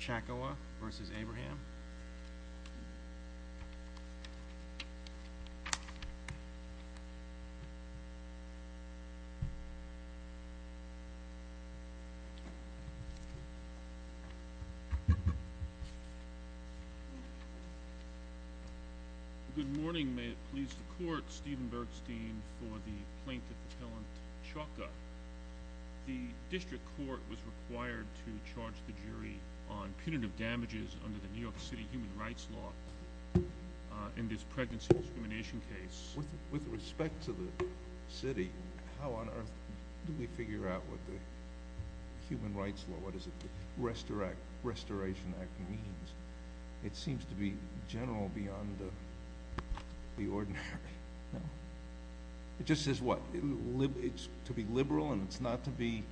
Chacoa v. Abraham Good morning, may it please the court. Steven Bergstein for the plaintiff appellant Chauca. The district court was required to charge the jury on punitive damages under the New York City Human Rights Law in this pregnancy discrimination case. With respect to the city, how on earth do we figure out what the Human Rights Law, what does the Restoration Act mean? It seems to be general beyond the ordinary. It just says what? It's to be liberal and it's not to be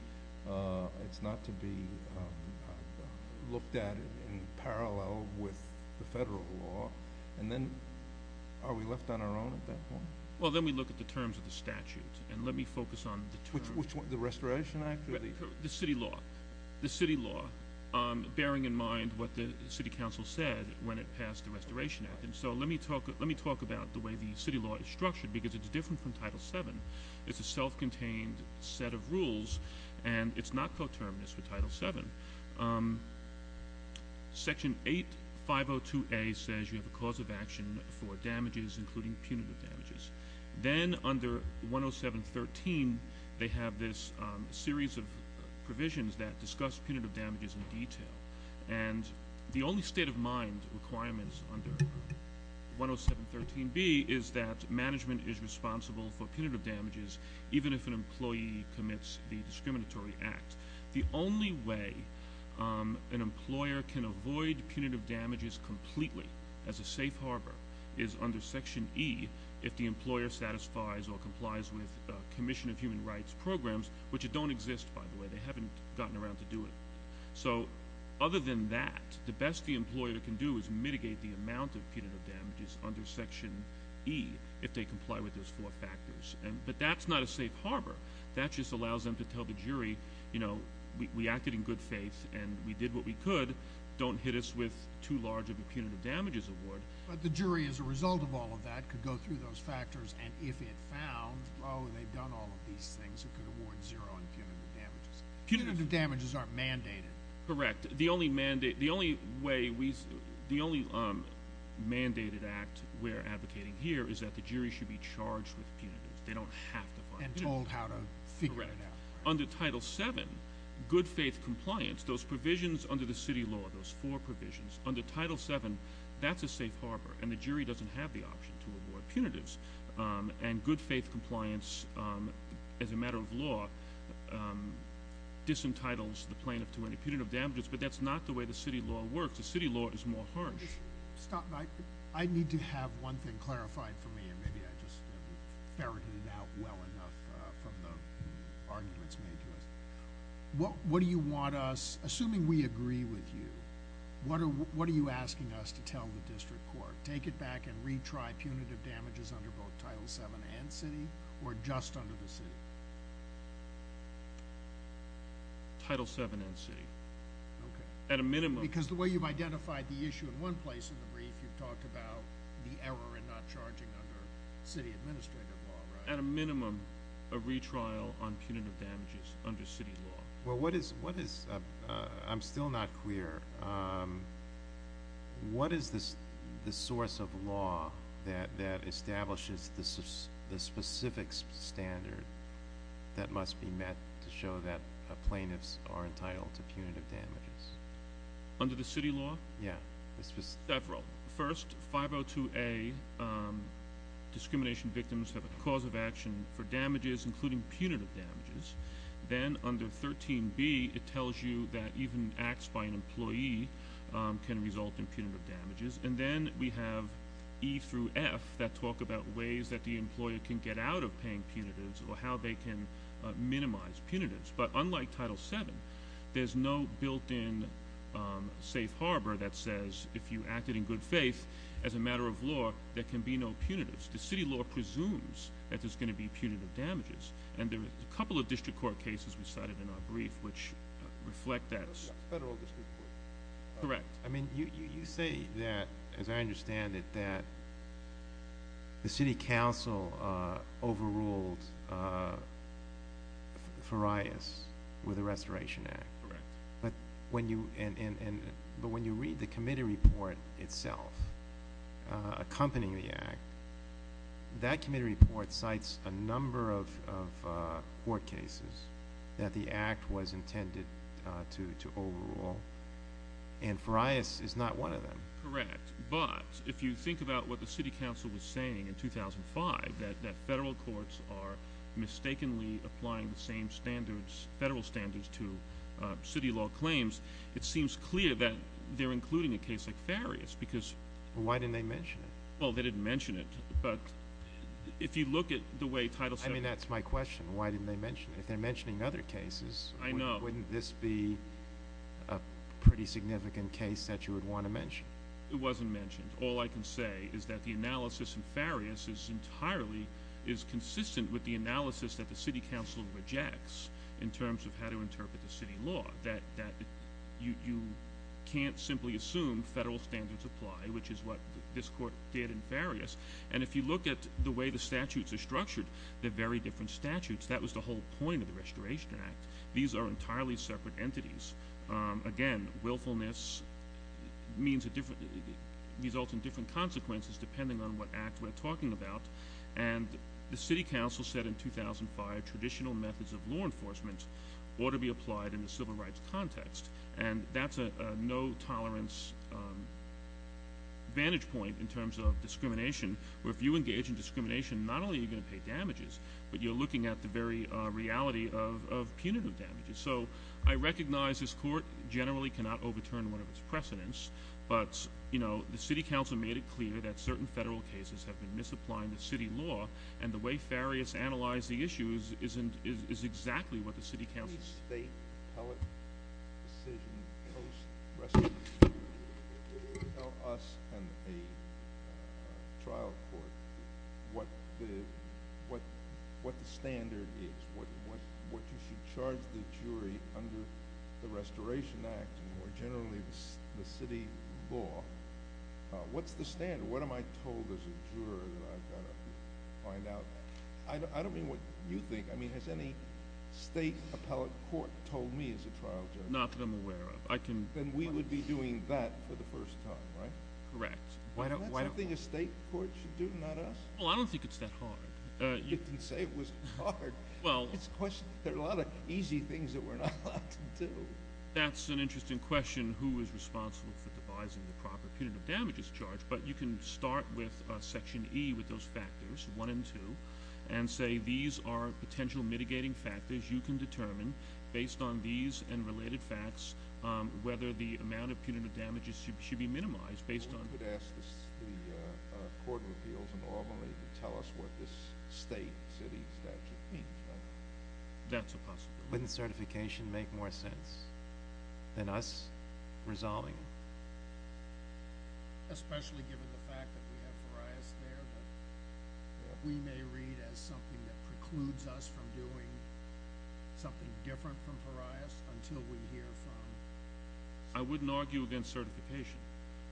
looked at in parallel with the federal law. And then are we left on our own at that point? Well, then we look at the terms of the statute. And let me focus on the terms. The Restoration Act? The city law. The city law, bearing in mind what the city council said when it passed the Restoration Act. And so let me talk about the way the city law is structured because it's different from Title VII. It's a self-contained set of rules and it's not coterminous with Title VII. Section 802A says you have a cause of action for damages including punitive damages. Then under 10713, they have this series of provisions that discuss punitive damages in detail. And the only state of mind requirements under 10713B is that management is responsible for punitive damages, even if an employee commits the discriminatory act. The only way an employer can avoid punitive damages completely as a safe harbor is under Section E, if the employer satisfies or complies with Commission of Human Rights programs, which don't exist, by the way. They haven't gotten around to do it. So other than that, the best the employer can do is mitigate the amount of punitive damages under Section E, if they comply with those four factors. But that's not a safe harbor. That just allows them to tell the jury, you know, we acted in good faith and we did what we could. Don't hit us with too large of a punitive damages award. But the jury, as a result of all of that, could go through those factors and if it found, oh, they've done all of these things, it could award zero in punitive damages. Punitive damages aren't mandated. Correct. The only mandated act we're advocating here is that the jury should be charged with punitive. They don't have to find punitive. And told how to figure it out. Correct. Under Title VII, good faith compliance, those provisions under the city law, those four provisions, under Title VII, that's a safe harbor and the jury doesn't have the option to award punitives. And good faith compliance, as a matter of law, disentitles the plaintiff to any punitive damages. But that's not the way the city law works. The city law is more harsh. Stop. I need to have one thing clarified for me and maybe I just ferreted it out well enough from the arguments made to us. What do you want us, assuming we agree with you, what are you asking us to tell the district court? Take it back and retry punitive damages under both Title VII and city or just under the city? Title VII and city. Okay. At a minimum. Because the way you've identified the issue in one place in the brief, you've talked about the error in not charging under city administrative law, right? At a minimum, a retrial on punitive damages under city law. Well, what is, I'm still not clear, what is the source of law that establishes the specific standard that must be met to show that plaintiffs are entitled to punitive damages? Under the city law? Yeah. Several. First, 502A, discrimination victims have a cause of action for damages, including punitive damages. Then under 13B, it tells you that even acts by an employee can result in punitive damages. And then we have E through F that talk about ways that the employer can get out of paying punitives or how they can minimize punitives. But unlike Title VII, there's no built-in safe harbor that says if you acted in good faith as a matter of law, there can be no punitives. The city law presumes that there's going to be punitive damages. And there are a couple of district court cases we cited in our brief which reflect that. Federal district court. Correct. I mean, you say that, as I understand it, that the city council overruled Farias with the Restoration Act. Correct. But when you read the committee report itself accompanying the act, that committee report cites a number of court cases that the act was intended to overrule. And Farias is not one of them. Correct. But if you think about what the city council was saying in 2005, that federal courts are mistakenly applying the same standards, federal standards, to city law claims, it seems clear that they're including a case like Farias because... Why didn't they mention it? Well, they didn't mention it. But if you look at the way Title VII... I mean, that's my question. Why didn't they mention it? If they're mentioning other cases... I know. Wouldn't this be a pretty significant case that you would want to mention? It wasn't mentioned. All I can say is that the analysis in Farias is entirely consistent with the analysis that the city council rejects in terms of how to interpret the city law, that you can't simply assume federal standards apply, which is what this court did in Farias. And if you look at the way the statutes are structured, they're very different statutes. That was the whole point of the Restoration Act. These are entirely separate entities. Again, willfulness results in different consequences depending on what act we're talking about. And the city council said in 2005 traditional methods of law enforcement ought to be applied in the civil rights context. And that's a no-tolerance vantage point in terms of discrimination, where if you engage in discrimination, not only are you going to pay damages, but you're looking at the very reality of punitive damages. So I recognize this court generally cannot overturn one of its precedents, but the city council made it clear that certain federal cases have been misapplying the city law, and the way Farias analyzed the issue is exactly what the city council said. State appellate decision post-restoration. Tell us and a trial court what the standard is, what you should charge the jury under the Restoration Act and more generally the city law. What's the standard? What am I told as a juror that I've got to find out? I don't mean what you think. I mean has any state appellate court told me as a trial juror? Not that I'm aware of. Then we would be doing that for the first time, right? Correct. Isn't that something a state court should do, not us? Well, I don't think it's that hard. You can say it was hard. There are a lot of easy things that we're not allowed to do. That's an interesting question, who is responsible for devising the proper punitive damages charge, but you can start with Section E with those factors, 1 and 2, and say these are potential mitigating factors. You can determine based on these and related facts whether the amount of punitive damages should be minimized. You could ask the Court of Appeals in Albany to tell us what this state city statute means. That's a possibility. Wouldn't certification make more sense than us resolving it? Especially given the fact that we have pariahs there, but we may read as something that precludes us from doing something different from pariahs until we hear from. I wouldn't argue against certification,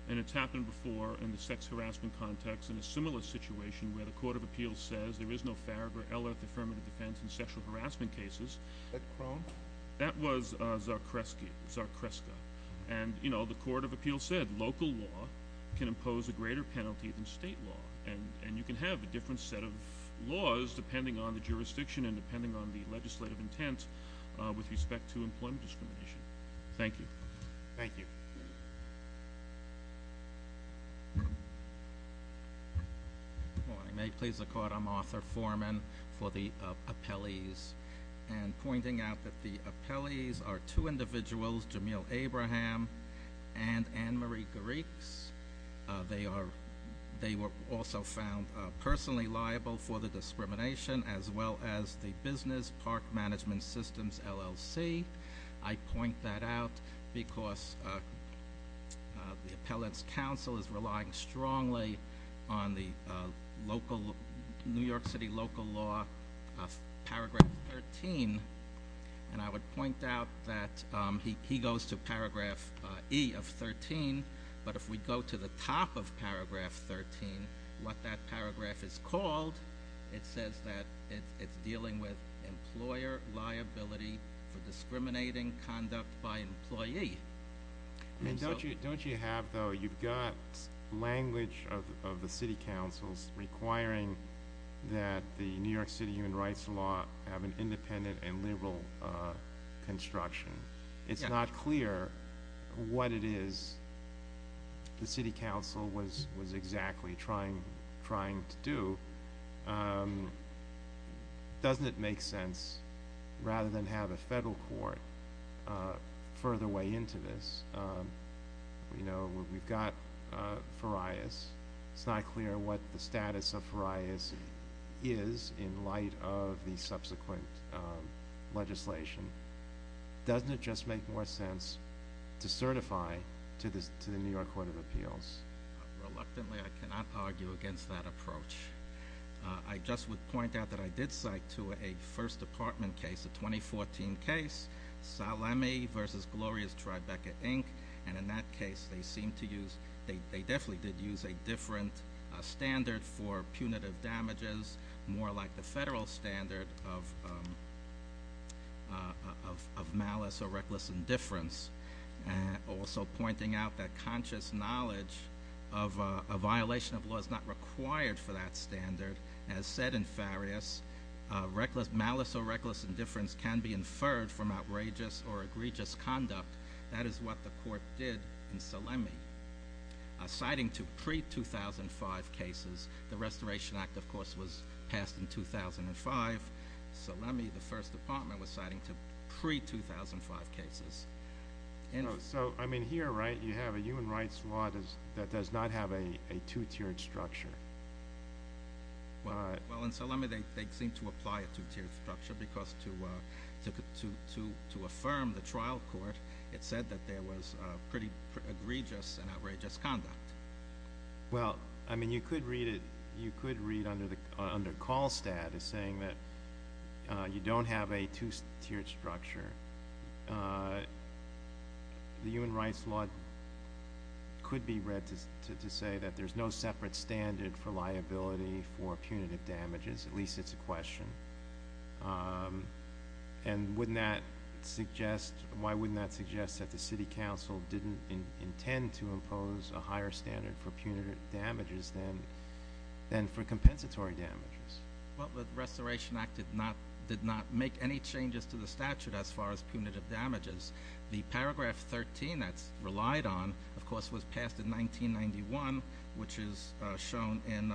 and it's happened before in the sex harassment context in a similar situation where the Court of Appeals says there is no FARAG or L-Earth affirmative defense in sexual harassment cases. Is that Crone? That was Czarkiewski, Czarkiewska. The Court of Appeals said local law can impose a greater penalty than state law, and you can have a different set of laws depending on the jurisdiction and depending on the legislative intent with respect to employment discrimination. Thank you. Thank you. Good morning. May it please the Court, I'm Arthur Foreman for the appellees. And pointing out that the appellees are two individuals, Jamil Abraham and Ann Marie Garrix. They were also found personally liable for the discrimination as well as the Business Park Management Systems, LLC. I point that out because the Appellate's Council is relying strongly on the New York City local law paragraph 13, and I would point out that he goes to paragraph E of 13, but if we go to the top of paragraph 13, what that paragraph is called, it says that it's dealing with employer liability for discriminating conduct by employee. Don't you have, though, you've got language of the city councils requiring that the New York City human rights law have an independent and liberal construction. It's not clear what it is the city council was exactly trying to do. Doesn't it make sense, rather than have a federal court further way into this, you know, we've got Farias. It's not clear what the status of Farias is in light of the subsequent legislation. Doesn't it just make more sense to certify to the New York Court of Appeals? Reluctantly, I cannot argue against that approach. I just would point out that I did cite to a First Department case, a 2014 case, Salemi v. Gloria's Tribeca, Inc., and in that case, they seemed to use, they definitely did use a different standard for punitive damages, more like the federal standard of malice or reckless indifference. Also pointing out that conscious knowledge of a violation of law is not required for that standard. As said in Farias, malice or reckless indifference can be inferred from outrageous or egregious conduct. That is what the court did in Salemi. Citing to pre-2005 cases, the Restoration Act, of course, was passed in 2005. Salemi, the First Department, was citing to pre-2005 cases. So, I mean, here, right, you have a human rights law that does not have a two-tiered structure. Well, in Salemi, they seemed to apply a two-tiered structure because to affirm the trial court, it said that there was pretty egregious and outrageous conduct. Well, I mean, you could read it, you could read under CalStat as saying that you don't have a two-tiered structure. The human rights law could be read to say that there's no separate standard for liability for punitive damages. At least, it's a question. And wouldn't that suggest, why wouldn't that suggest that the City Council didn't intend to impose a higher standard for punitive damages than for compensatory damages? Well, the Restoration Act did not make any changes to the statute as far as punitive damages. The Paragraph 13 that's relied on, of course, was passed in 1991, which is shown in…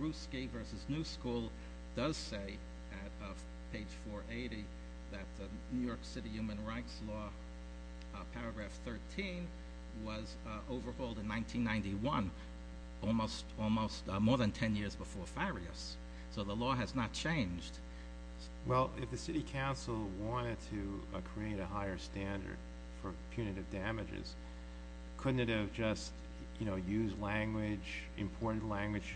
Vakrusky v. New School does say at page 480 that the New York City human rights law, Paragraph 13, was overhauled in 1991, almost more than 10 years before Farias. So, the law has not changed. Well, if the City Council wanted to create a higher standard for punitive damages, couldn't it have just, you know, used language, imported language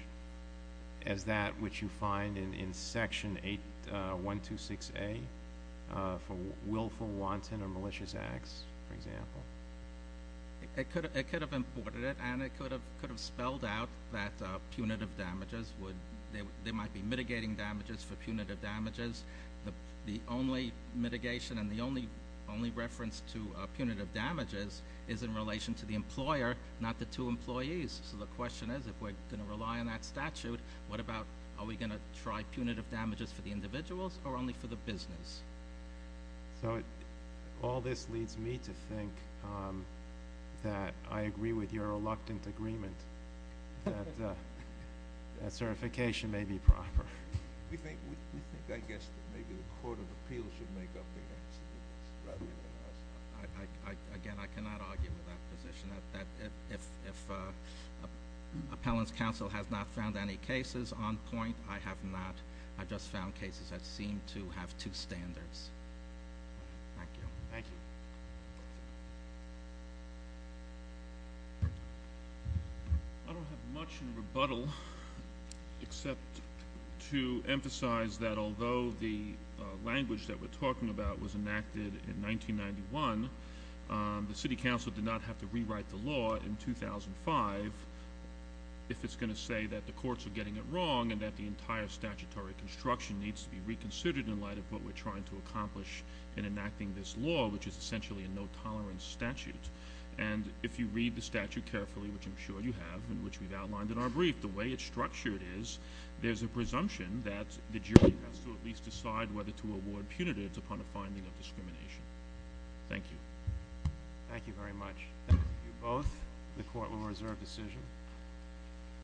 as that which you find in Section 8126A for willful, wanton, or malicious acts, for example? It could have imported it, and it could have spelled out that punitive damages would, they might be mitigating damages for punitive damages. The only mitigation and the only reference to punitive damages is in relation to the employer, not the two employees. So, the question is, if we're going to rely on that statute, what about, are we going to try punitive damages for the individuals or only for the business? So, all this leads me to think that I agree with your reluctant agreement that certification may be proper. We think, I guess, that maybe the Court of Appeals should make up their minds. Again, I cannot argue with that position. If Appellant's Counsel has not found any cases on point, I have not. I just found cases that seem to have two standards. Thank you. Thank you. I don't have much in rebuttal except to emphasize that although the language that we're talking about was enacted in 1991, the City Council did not have to rewrite the law in 2005 if it's going to say that the courts are getting it wrong and that the entire statutory construction needs to be reconsidered in light of what we're trying to accomplish in enacting this law, which is essentially a no-tolerance statute. And if you read the statute carefully, which I'm sure you have and which we've outlined in our brief, the way it's structured is there's a presumption that the jury has to at least decide whether to award punitives upon a finding of discrimination. Thank you. Thank you very much. Thank you both. The Court will reserve decision.